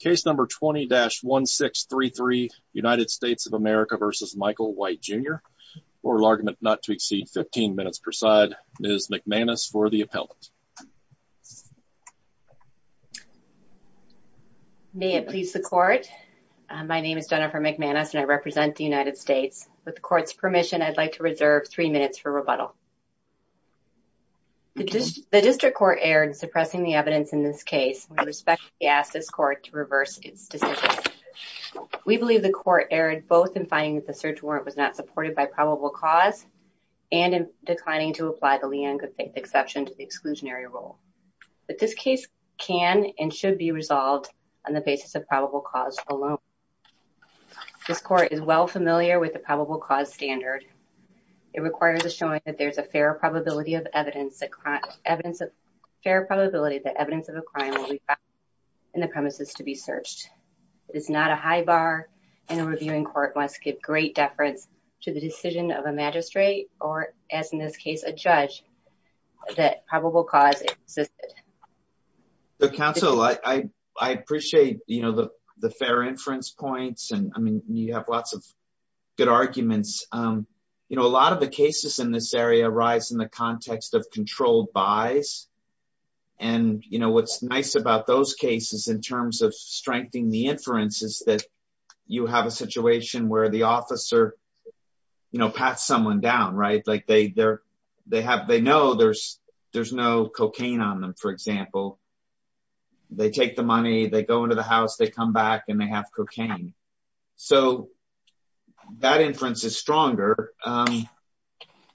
Case number 20-1633 United States of America v. Michael White Jr. Oral argument not to exceed 15 minutes per side. Ms. McManus for the appellant. May it please the court. My name is Jennifer McManus and I represent the United States. With the court's permission, I'd like to reserve three minutes for rebuttal. The district court erred in suppressing the evidence in this case. We respectfully ask this court to reverse its decision. We believe the court erred both in finding that the search warrant was not supported by probable cause and in declining to apply the Leanne Goodfaith exception to the exclusionary rule. But this case can and should be resolved on the basis of probable cause alone. This court is well familiar with the probable cause standard. It requires a showing that there's a fair probability of evidence that evidence of a crime will be found in the premises to be searched. It is not a high bar and a reviewing court must give great deference to the decision of a magistrate or, as in this case, a judge that probable cause existed. Counsel, I appreciate the fair inference points and you have lots of good arguments. A lot of the cases in this area arise in the context of controlled buys. And, you know, what's nice about those cases in terms of strengthening the inference is that you have a situation where the officer, you know, pats someone down, right? Like they have, they know there's no cocaine on them, for example. They take the money, they go into the house, they come back and they have cocaine. So that inference is stronger.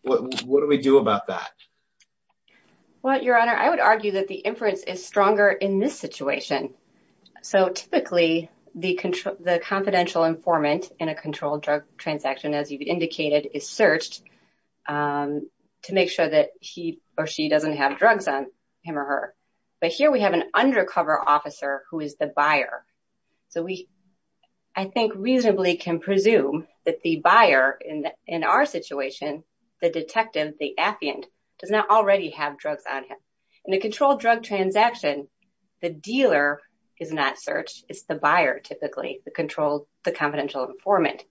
What do we do about that? Well, Your Honor, I would argue that the inference is stronger in this situation. So typically the confidential informant in a controlled drug transaction, as you've indicated, is searched to make sure that he or she doesn't have drugs on him or her. But here we have an undercover officer who is the buyer. So we, I think, reasonably can presume that the buyer in our situation, the detective, the affiant, does not already have drugs on him. In a controlled drug transaction, the dealer is not searched. It's the buyer, typically, the controlled, the confidential informant.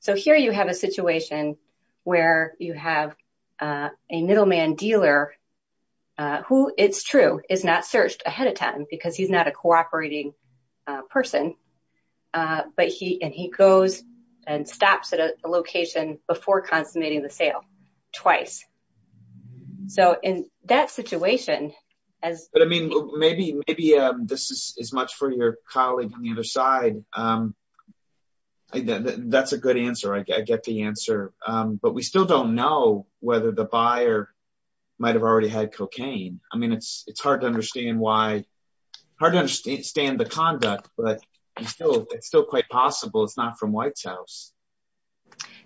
So here you have a situation where you have a middleman dealer who, it's true, is not searched ahead of time because he's not a cooperating person. But he, and he goes and stops at a location before consummating the sale twice. So in that situation, as- But I mean, maybe this is much for your colleague on the other side. That's a good answer. I get the answer. But we still don't know whether the buyer might have already had cocaine. I mean, it's hard to understand why, hard to understand the conduct, but it's still quite possible it's not from White's house.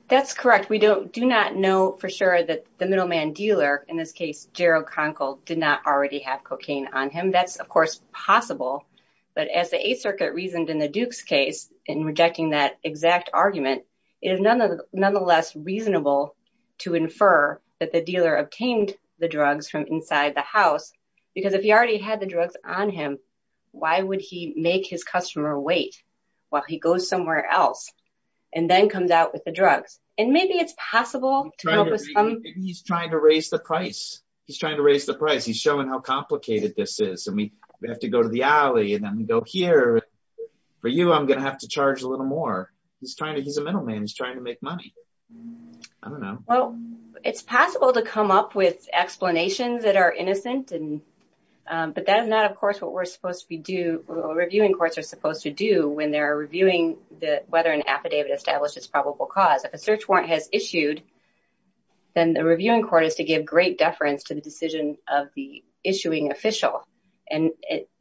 That's correct. We don't, do not know for sure that the middleman dealer, in this case, Gerald Conkle, did not already have cocaine on him. That's, of course, possible. But as the Eighth Circuit reasoned in the Duke's case in rejecting that exact argument, it is nonetheless reasonable to infer that the dealer obtained the drugs from inside the house. Because if he already had the drugs on him, why would he make his customer wait while he goes somewhere else and then comes out with the drugs? And maybe it's possible to- He's trying to raise the price. He's trying to raise the price. He's showing how complicated this is. And we have to go to the alley and then we go here. For you, I'm going to have to charge a little more. He's trying to, the middleman is trying to make money. I don't know. Well, it's possible to come up with explanations that are innocent. But that is not, of course, what we're supposed to do, reviewing courts are supposed to do when they're reviewing whether an affidavit establishes probable cause. If a search warrant has issued, then the reviewing court is to give great deference to the decision of the issuing official. And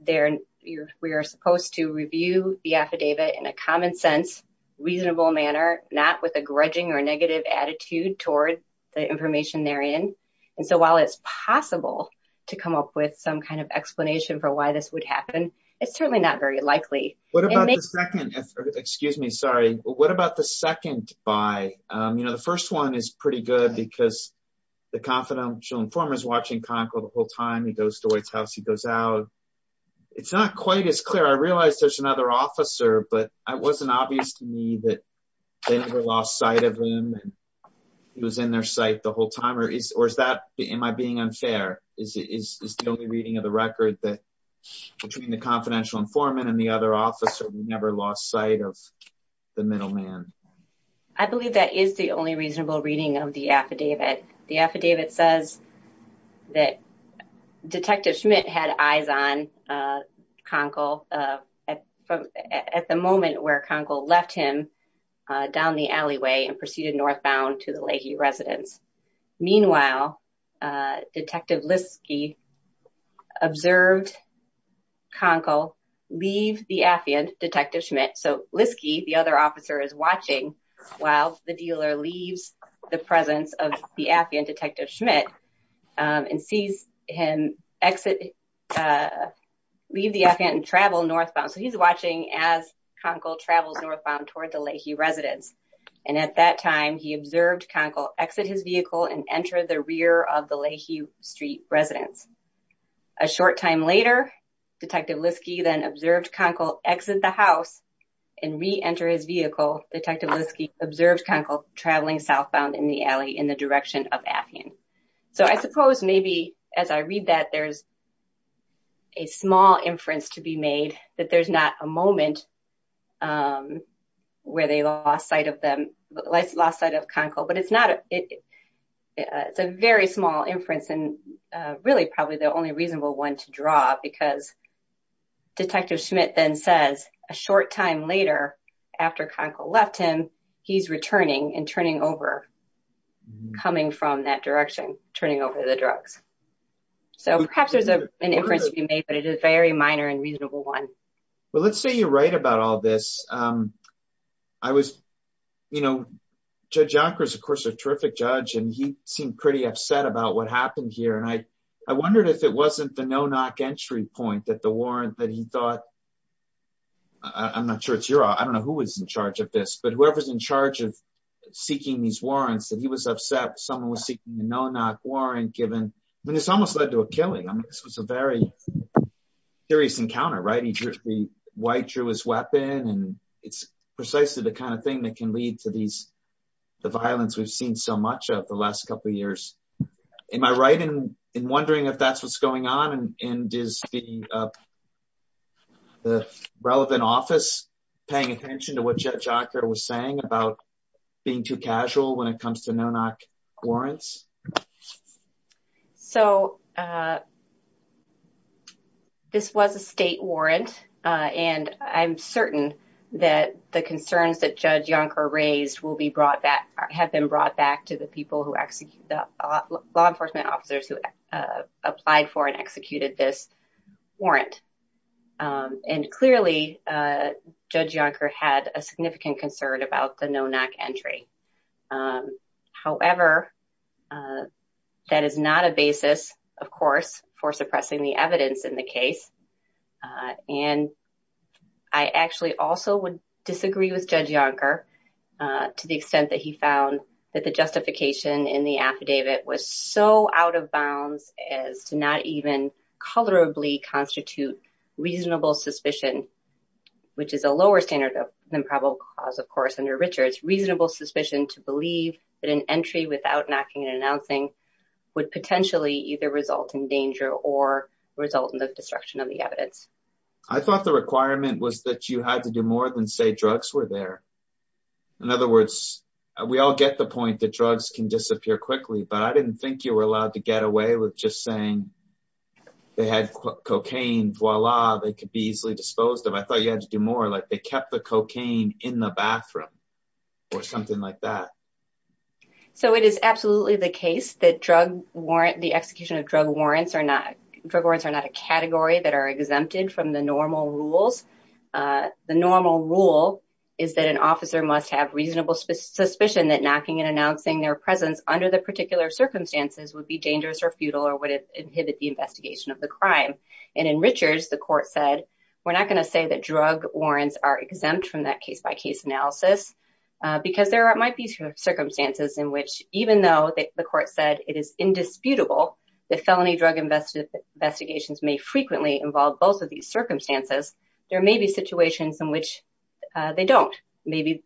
we are supposed to review the affidavit in a common sense, reasonable manner, not with a grudging or negative attitude toward the information they're in. And so while it's possible to come up with some kind of explanation for why this would happen, it's certainly not very likely. What about the second? Excuse me. Sorry. What about the second buy? The first one is pretty good because the confidential informant is watching Conco the whole time. He goes to his house, he goes out. It's not quite as clear. I realized there's another officer, but it wasn't obvious to me that they never lost sight of him. He was in their sight the whole time or is or is that am I being unfair? Is it is the only reading of the record that between the confidential informant and the other officer, we never lost sight of the middle man. I believe that is the only reasonable reading of the affidavit. The affidavit says that Detective Schmidt had eyes on Conco at the moment where Conco left him down the alleyway and proceeded northbound to the Leahy residence. Meanwhile, Detective Liske observed Conco leave the affidavit, Detective Schmidt. So Liske, the other officer is watching while the dealer leaves the presence of the affidavit, Detective Schmidt, and sees him exit, leave the affidavit and travel northbound. So he's watching as Conco travels northbound toward the Leahy residence. And at that time, he observed Conco exit his vehicle and enter the rear of the Leahy Street residence. A short time later, Detective Liske then observed Conco exit the house and re-enter his vehicle. Detective Liske observed Conco traveling southbound in the alley in the direction of Afyon. So I suppose maybe as I read that there's a small inference to be made that there's not a moment where they lost sight of Conco. But it's a very small inference and really probably the only he's returning and turning over, coming from that direction, turning over the drugs. So perhaps there's an inference to be made, but it is very minor and reasonable one. Well, let's say you're right about all this. I was, you know, Judge Yonkers, of course, a terrific judge, and he seemed pretty upset about what happened here. And I I wondered if it wasn't the no-knock entry point that the warrant that he thought, I'm not sure it's your, I don't know who was in charge of this, but whoever's in charge of seeking these warrants, that he was upset someone was seeking the no-knock warrant given. I mean, this almost led to a killing. I mean, this was a very serious encounter, right? The white drew his weapon, and it's precisely the kind of thing that can lead to these, the violence we've seen so much of the last couple of years. Am I right in wondering if that's what's going on, and is the relevant office paying attention to what Judge Yonker was saying about being too casual when it comes to no-knock warrants? So this was a state warrant, and I'm certain that the concerns that Judge Yonker raised will be brought back, have been brought back to the people who execute the law enforcement officers who applied for and executed this warrant. And clearly, Judge Yonker had a significant concern about the no-knock entry. However, that is not a basis, of course, for suppressing the evidence in the case. And I actually also would disagree with Judge Yonker to the extent that he found that the justification in the affidavit was so out of bounds as to not even colorably constitute reasonable suspicion, which is a lower standard than probable cause, of course, under Richards. Reasonable suspicion to believe that an entry without knocking and announcing would potentially either result in danger or result in the destruction of the evidence. I thought the requirement was that you had to do more than say drugs were there. In other words, we all get the point that drugs can disappear quickly, but I didn't think you were allowed to get away with just saying they had cocaine, voila, they could be easily disposed of. I thought you had to do more, like they kept the cocaine in the bathroom or something like that. So it is absolutely the case that the execution of drug warrants are not a category that are reasonable suspicion that knocking and announcing their presence under the particular circumstances would be dangerous or futile or would inhibit the investigation of the crime. And in Richards, the court said, we're not going to say that drug warrants are exempt from that case-by-case analysis because there might be circumstances in which, even though the court said it is indisputable that felony drug investigations may frequently involve both of these circumstances, there may be situations in which they don't. Maybe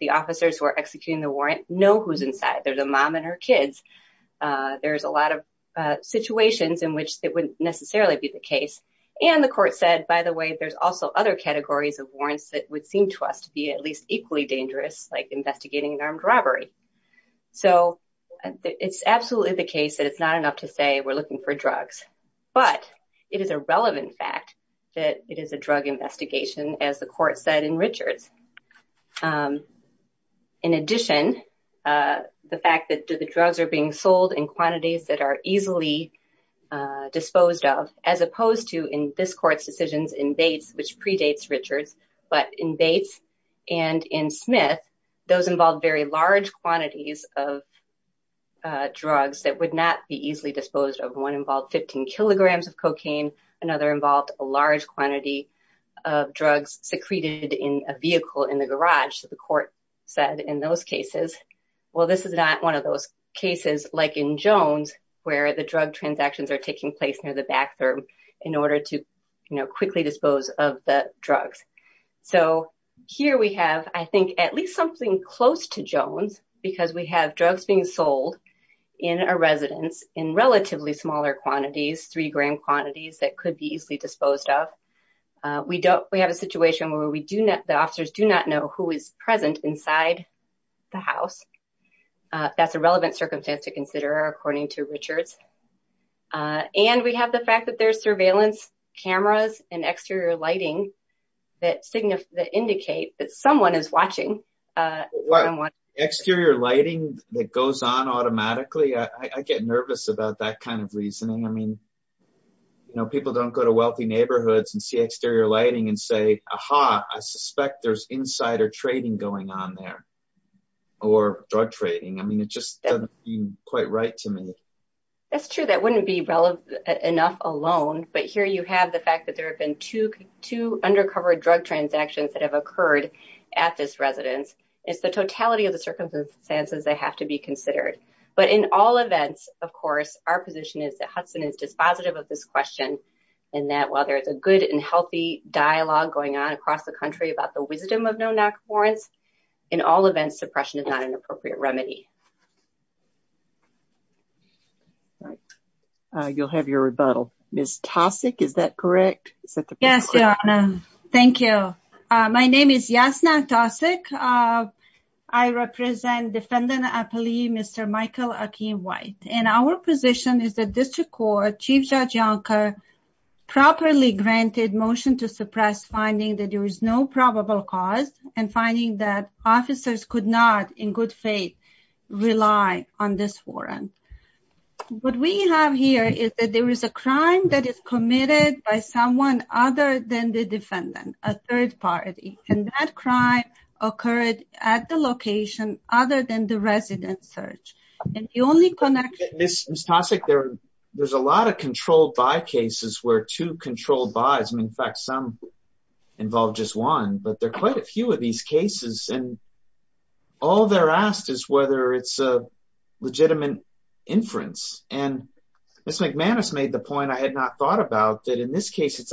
the officers who are executing the warrant know who's inside. There's a mom and her kids. There's a lot of situations in which it wouldn't necessarily be the case. And the court said, by the way, there's also other categories of warrants that would seem to us to be at least equally dangerous, like investigating an armed robbery. So it's absolutely the case that it's not enough to say we're looking for drugs, but it is a relevant fact that it is a drug investigation, as the court said in Richards. In addition, the fact that the drugs are being sold in quantities that are easily disposed of, as opposed to in this court's decisions in Bates, which predates Richards, but in Bates and in Smith, those involved very large quantities of drugs that would not be kilograms of cocaine. Another involved a large quantity of drugs secreted in a vehicle in the garage. So the court said in those cases, well, this is not one of those cases like in Jones, where the drug transactions are taking place near the back door in order to quickly dispose of the drugs. So here we have, I think, at least something close to Jones, because we have drugs being sold in a residence in relatively smaller quantities, three gram quantities that could be easily disposed of. We have a situation where the officers do not know who is present inside the house. That's a relevant circumstance to consider, according to Richards. And we have the fact that there's surveillance cameras and exterior lighting that indicate that watching. Exterior lighting that goes on automatically, I get nervous about that kind of reasoning. I mean, you know, people don't go to wealthy neighborhoods and see exterior lighting and say, aha, I suspect there's insider trading going on there or drug trading. I mean, it just doesn't seem quite right to me. That's true. That wouldn't be relevant enough alone. But here you have the fact that there have been two undercover drug transactions that have occurred at this residence. It's the totality of the circumstances that have to be considered. But in all events, of course, our position is that Hudson is dispositive of this question, and that while there is a good and healthy dialogue going on across the country about the wisdom of no-knock warrants, in all events, suppression is not an appropriate remedy. Right. You'll have your rebuttal. Ms. Tosic, is that correct? Yes, Your Honor. Thank you. My name is Yasna Tosic. I represent Defendant Appellee Mr. Michael Akeem White. And our position is that District Court Chief Judge Yonker properly granted motion to suppress finding that there is no probable cause and finding that officers could not, in good faith, rely on this warrant. What we have here is that there is a crime that is committed by someone other than the defendant, a third party. And that crime occurred at the location other than the residence search. And the only connection... Ms. Tosic, there's a lot of controlled by cases where two controlled by's, and in fact, some involve just one, but there are quite a few of these cases. And all they're asked is whether it's a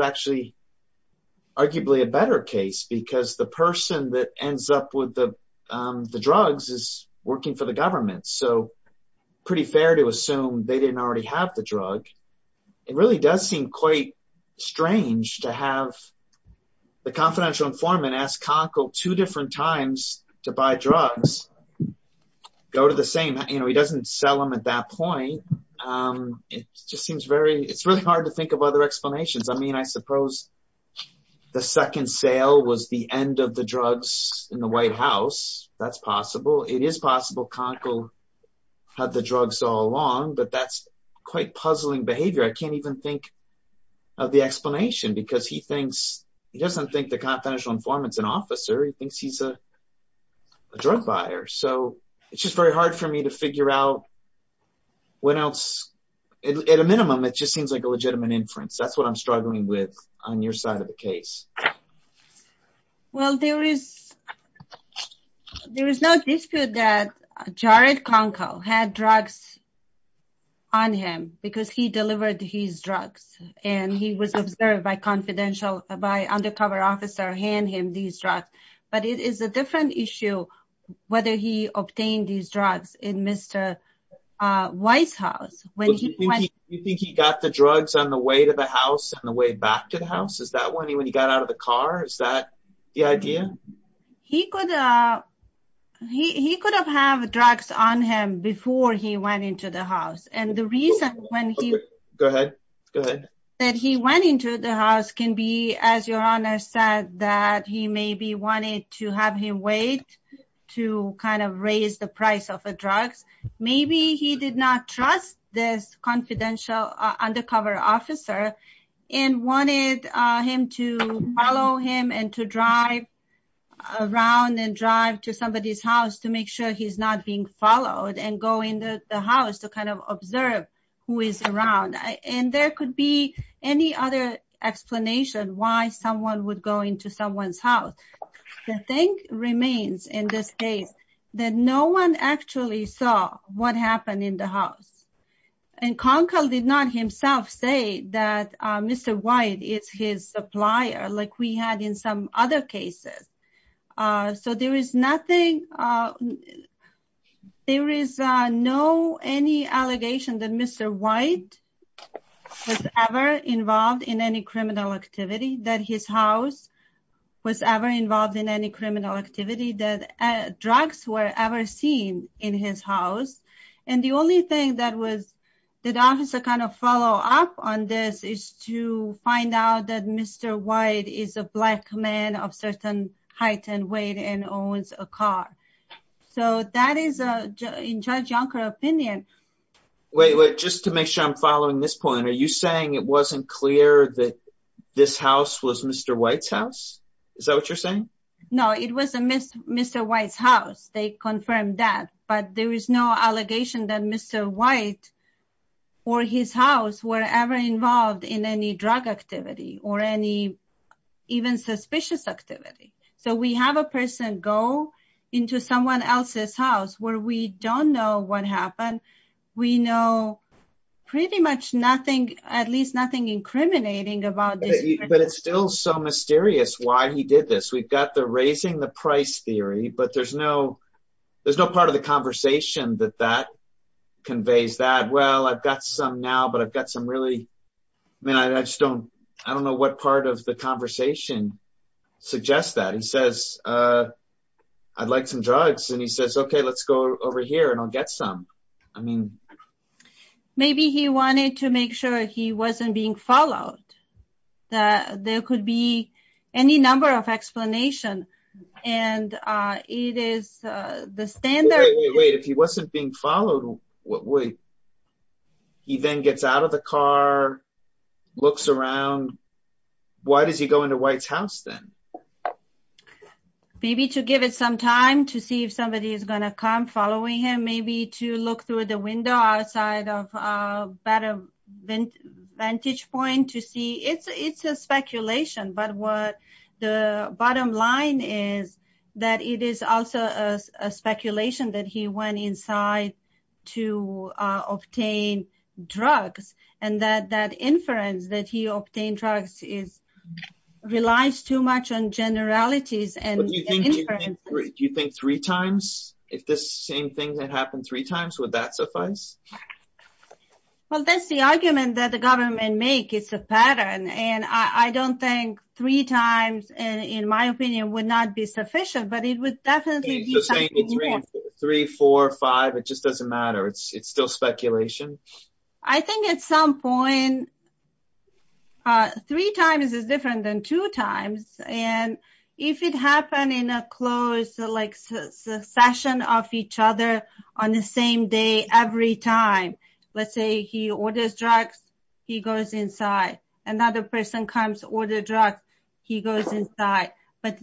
actually arguably a better case, because the person that ends up with the drugs is working for the government. So pretty fair to assume they didn't already have the drug. It really does seem quite strange to have the confidential informant ask CONCO two different times to buy drugs, go to the same, you know, he doesn't sell them at that point. It just seems very, it's really hard to think of other explanations. I mean, I suppose the second sale was the end of the drugs in the White House. That's possible. It is possible CONCO had the drugs all along, but that's quite puzzling behavior. I can't even think of the explanation because he thinks he doesn't think the confidential informant's an officer. He thinks he's a drug buyer. So it's just very hard for me to figure out what else at a minimum, it just seems like a legitimate inference. That's what I'm struggling with on your side of the case. Well, there is, there is no dispute that Jared CONCO had drugs on him because he delivered his drugs and he was observed by confidential, by undercover officer hand him these drugs. But it is a different issue whether he obtained these drugs in Mr. White's house. You think he got the drugs on the way to the house, on the way back to the house? Is that when he, when he got out of the car, is that the idea? He could, he could have have drugs on him before he went into the house. And the reason when he, go ahead, go ahead, that he went into the house can be, as your Honor said, that he maybe wanted to have him wait to kind of raise the price of the drugs. Maybe he did not trust this confidential undercover officer and wanted him to follow him and to drive around and drive to somebody's house to make sure he's not being followed and go into the house to kind of observe who is around. And there could be any other explanation why someone would go into someone's house. The thing remains in this case that no one actually saw what happened in the house. And CONCO did not himself say that Mr. White is his supplier like we had in some other cases. So there is nothing, there is no, any allegation that Mr. White was ever involved in any criminal activity, that his house was ever involved in any criminal activity, that drugs were ever seen in his house. And the only thing that was, that officer kind of follow up on this is to find out that Mr. White is a black man of certain height and weight and owns a car. So that is in Judge Yonker opinion. Wait, wait, just to make sure I'm following this point, are you saying it wasn't clear that this house was Mr. White's house? Is that what you're saying? No, it was Mr. White's house. They confirmed that. But there is no allegation that Mr. White or his house were ever involved in any drug activity or any even suspicious activity. So we have a person go into someone else's house where we don't know what happened. We know pretty much nothing, at least nothing incriminating about this. But it's still so mysterious why he did this. We've got the raising the price theory, but there's no, there's no part of the conversation that that conveys that, well, I've got some now, but I've got some really, I mean, I just don't, I don't know what part of the conversation suggests that. He says, I'd like some drugs. And he says, okay, let's go over here and I'll get some. I mean, maybe he wanted to make sure he wasn't being followed, that there could be any number of explanation. And it is the standard. Wait, if he wasn't being followed, he then gets out of the car, looks around. Why does he go into White's house then? Maybe to give it some time to see if somebody is going to come following him, maybe to look through the window outside of a better vantage point to see it's a speculation, but what the bottom line is that it is also a speculation that he went inside to obtain drugs. And that, inference that he obtained drugs is relies too much on generalities. Do you think three times, if this same thing that happened three times, would that suffice? Well, that's the argument that the government make. It's a pattern. And I don't think three times in my opinion would not be sufficient, but it would definitely be three, four or five. It doesn't matter. It's still speculation. I think at some point, three times is different than two times. And if it happened in a closed session of each other on the same day, every time, let's say he orders drugs, he goes inside. Another person comes, order drugs, he goes inside. But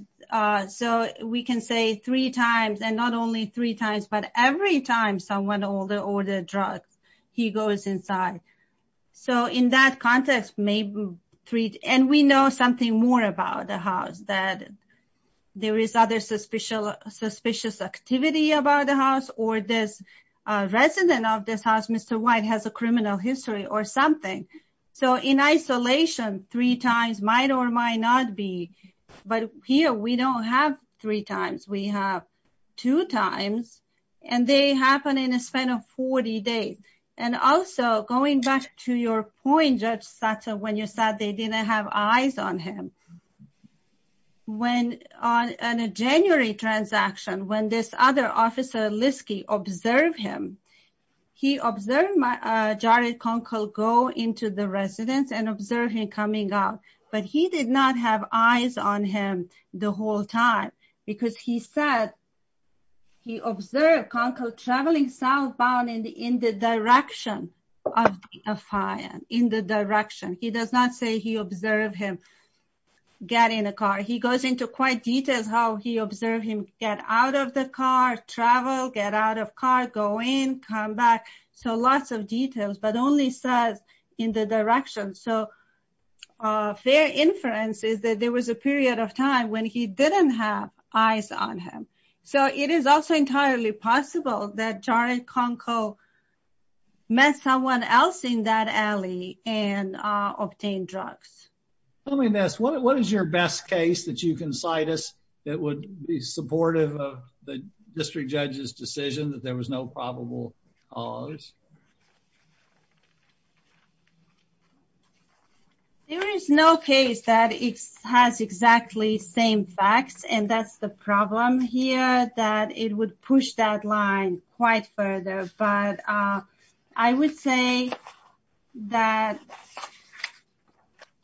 so we can say three times and not only three times, but every time someone ordered drugs, he goes inside. So in that context, maybe three, and we know something more about the house that there is other suspicious activity about the house or this resident of this house, Mr. White has a criminal history or something. So in isolation, three times might or might not be, but here we don't have three times. We have two times and they happen in a span of 40 days. And also going back to your point, Judge Satter, when you said they didn't have eyes on him, when on a January transaction, when this other officer Liskey observed him, he observed Jared coming out, but he did not have eyes on him the whole time because he said, he observed Kanko traveling southbound in the direction of the affiant, in the direction. He does not say he observed him get in a car. He goes into quite details how he observed him get out of the car, travel, get out of car, go in, come back. So lots of details, but only says in the direction. So a fair inference is that there was a period of time when he didn't have eyes on him. So it is also entirely possible that Jared Kanko met someone else in that alley and obtained drugs. Let me ask, what is your best case that you can cite us that would be supportive of the district judge's decision that there was no probable cause? There is no case that it has exactly same facts and that's the problem here that it would push that line quite further. But I would say that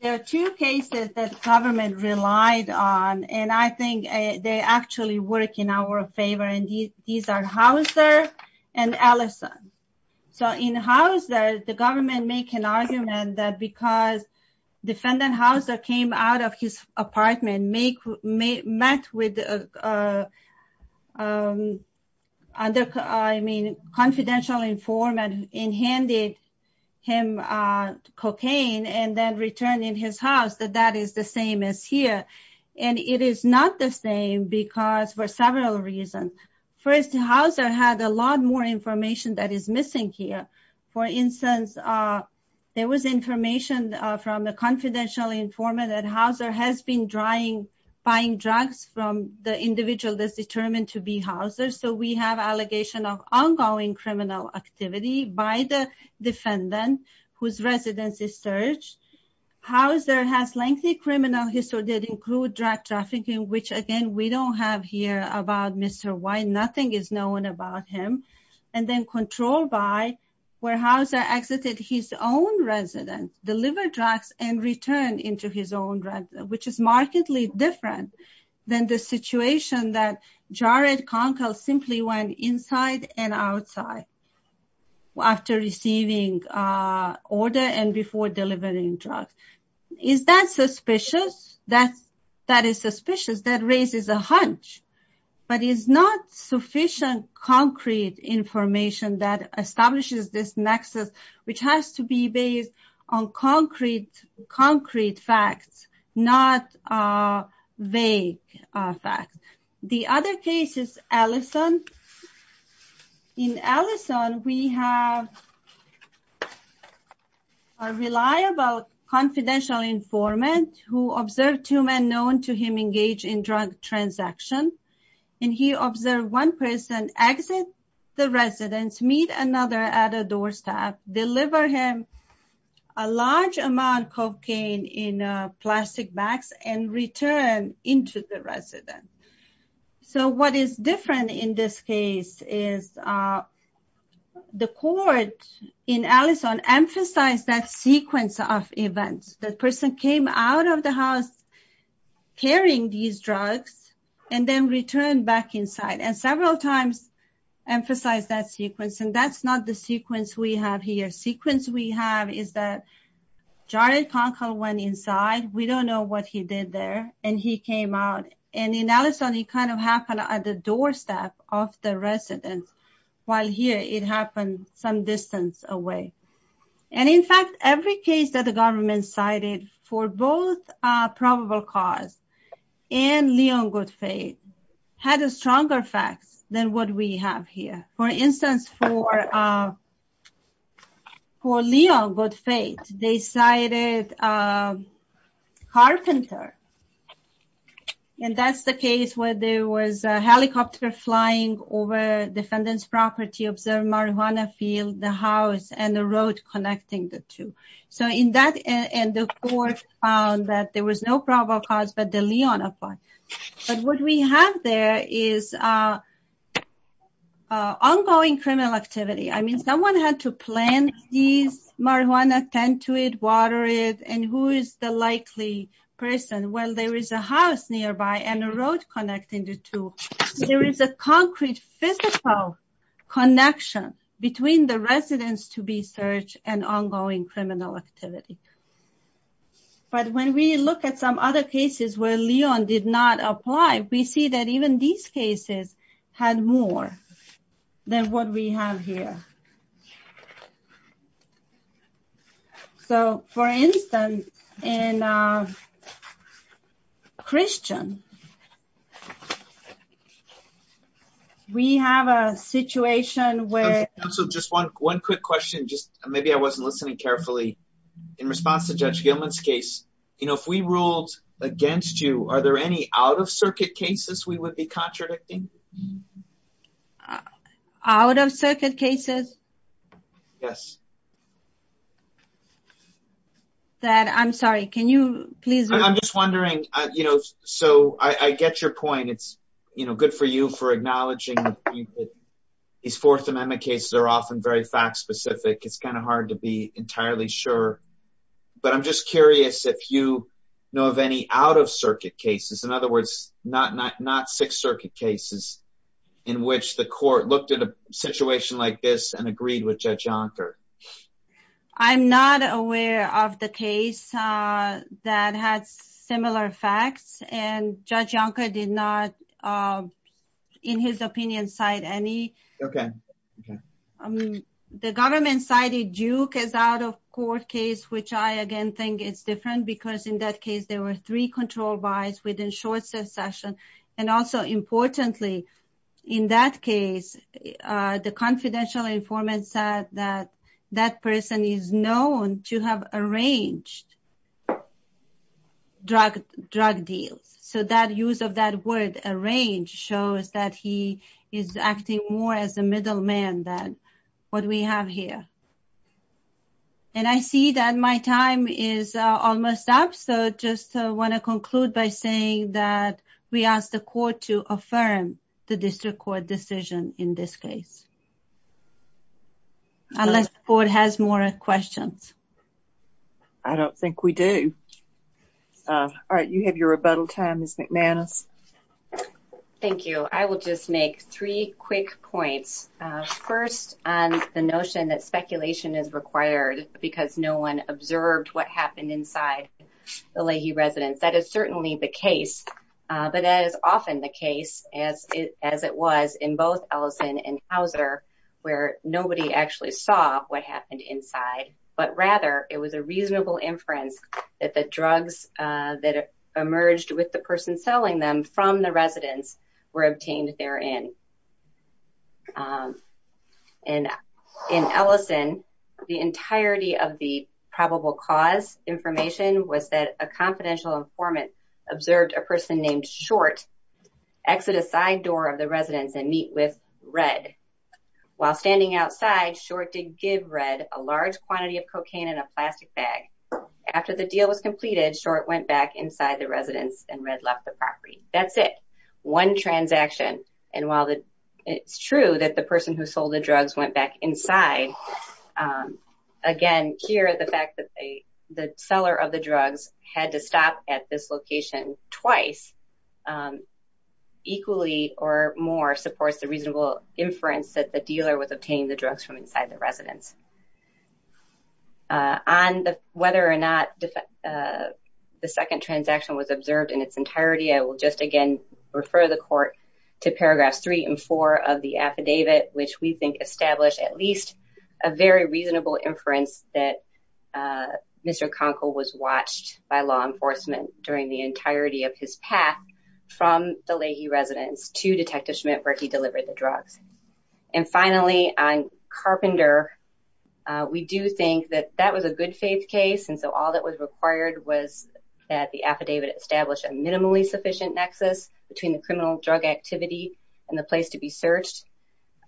there are two cases that government relied on, and I think they actually work in our favor. And these are Hauser and Allison. So in Hauser, the government make an argument that because defendant Hauser came out of his apartment, met with confidential informant and handed him cocaine and then returned in his house, that that is the same as here. And it is not the same because for several reasons. First, Hauser had a lot more information that is missing here. For instance, there was information from the confidential informant that Hauser has been buying drugs from the individual that's determined to be Hauser. So we have allegation of ongoing criminal activity by the defendant whose residence is searched. Hauser has lengthy criminal history that include drug trafficking, which again, we don't have here about Mr. White. Nothing is known about him. And then control by where Hauser exited his own residence, delivered drugs and returned into his own residence, which is markedly different than the situation that Jared Conkel simply went inside and outside after receiving order and before delivering drugs. Is that suspicious? That is suspicious. That raises a hunch, but is not sufficient concrete information that establishes this nexus, which has to be based on concrete facts, not vague facts. The other case is Allison. In Allison, we have a reliable confidential informant who observed two men known to him engage in drug transaction. And he observed one person exit the residence, meet another at a doorstep, deliver him a large amount of cocaine in plastic bags and return into the residence. So what is different in this case is the court in Allison emphasized that sequence of events that person came out of the house carrying these drugs and then returned back inside and several times emphasized that sequence. And that's not the sequence we have here. Sequence we have is that Jared Conkel went inside. We don't know what he did there. And he came out. And in Allison, he kind of happened at the doorstep of the residence while here it happened some distance away. And in fact, every case that the government cited for both probable cause and Leon Goodfait had a stronger facts than what we have here. For instance, for Leon Goodfait, they cited a carpenter. And that's the case where there was a helicopter flying over defendant's property, observed marijuana field, the house, and the road connecting the two. So in that, and the court found that there was no probable cause, but the Leon applied. But what we have there is ongoing criminal activity. I mean, someone had to plant these marijuana, tend to it, water it. And who is the likely person? Well, there is a house nearby and a road connecting the two. There is a concrete physical connection between the residence to be searched and ongoing criminal activity. But when we look at some other cases where Leon did not apply, we see that even these cases had more than what we have here. So for instance, in Christian, we have a situation where- Counsel, just one quick question, just maybe I wasn't listening carefully. In response to Judge Gilman's case, if we ruled against you, are there any out of circuit cases we would be contradicting? Out of circuit cases? Yes. That, I'm sorry, can you please- I'm just wondering, so I get your point. It's good for you for acknowledging these Fourth Amendment cases are often very fact specific. It's kind of hard to be entirely sure. But I'm just curious if you know of any out of circuit cases. In other words, not Sixth Circuit cases in which the court looked at a situation like this and agreed with Judge Yonker. I'm not aware of the case that had similar facts and Judge Yonker did not, in his opinion, cite any. The government cited Duke as out of court case, which I again think is different because in that case, there were three control buys within short succession. And also importantly, in that case, the confidential informant said that that person is known to have arranged drug deals. So that use of that word, arranged, shows that he is acting more as a middleman than what we have here. And I see that my time is almost up. So just want to conclude by saying that we ask the court to affirm the district court decision in this case. Unless the board has more questions. I don't think we do. All right, you have your rebuttal time, Ms. McManus. Thank you. I will just make three quick points. First, on the notion that speculation is required because no one observed what happened inside the Leahy residence. That is certainly the case. But as often the case, as it was in both Ellison and Hauser, where nobody actually saw what happened inside. But rather, it was a reasonable inference that the drugs that emerged with the from the residence were obtained therein. And in Ellison, the entirety of the probable cause information was that a confidential informant observed a person named Short exit a side door of the residence and meet with Red. While standing outside, Short did give Red a large quantity of cocaine in a plastic bag. After the deal was completed, Short went back inside the residence and Red left the property. That's it. One transaction. And while it's true that the person who sold the drugs went back inside, again, here the fact that the seller of the drugs had to stop at this location twice, equally or more supports the reasonable inference that the dealer was obtaining the drugs from inside the residence. On whether or not the second transaction was observed in its entirety, I will just again refer the court to paragraphs three and four of the affidavit, which we think established at least a very reasonable inference that Mr. Conkle was watched by law enforcement during the entirety of his path from the Leahy residence to Detective Schmidt where he delivered the drugs. And finally, on Carpenter, we do think that that was a good case. And so all that was required was that the affidavit establish a minimally sufficient nexus between the criminal drug activity and the place to be searched.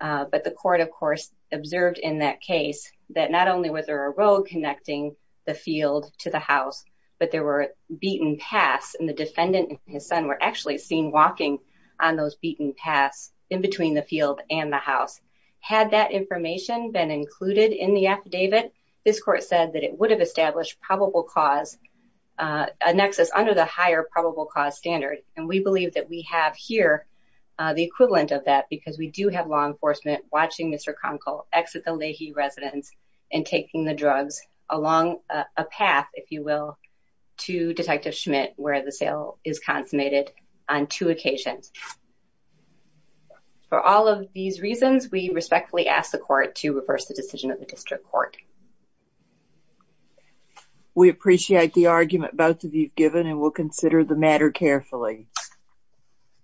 But the court, of course, observed in that case that not only was there a road connecting the field to the house, but there were beaten paths and the defendant and his son were actually seen walking on those beaten paths in between the field and the house. Had that information been included in the affidavit, this court said that it would have established probable cause, a nexus under the higher probable cause standard. And we believe that we have here the equivalent of that because we do have law enforcement watching Mr. Conkle exit the Leahy residence and taking the drugs along a path, if you will, to Detective Schmidt where the sale is consummated on two occasions. For all of these reasons, we respectfully ask the court to reverse the decision of the district court. Thank you. We appreciate the argument both of you have given and will consider the matter carefully.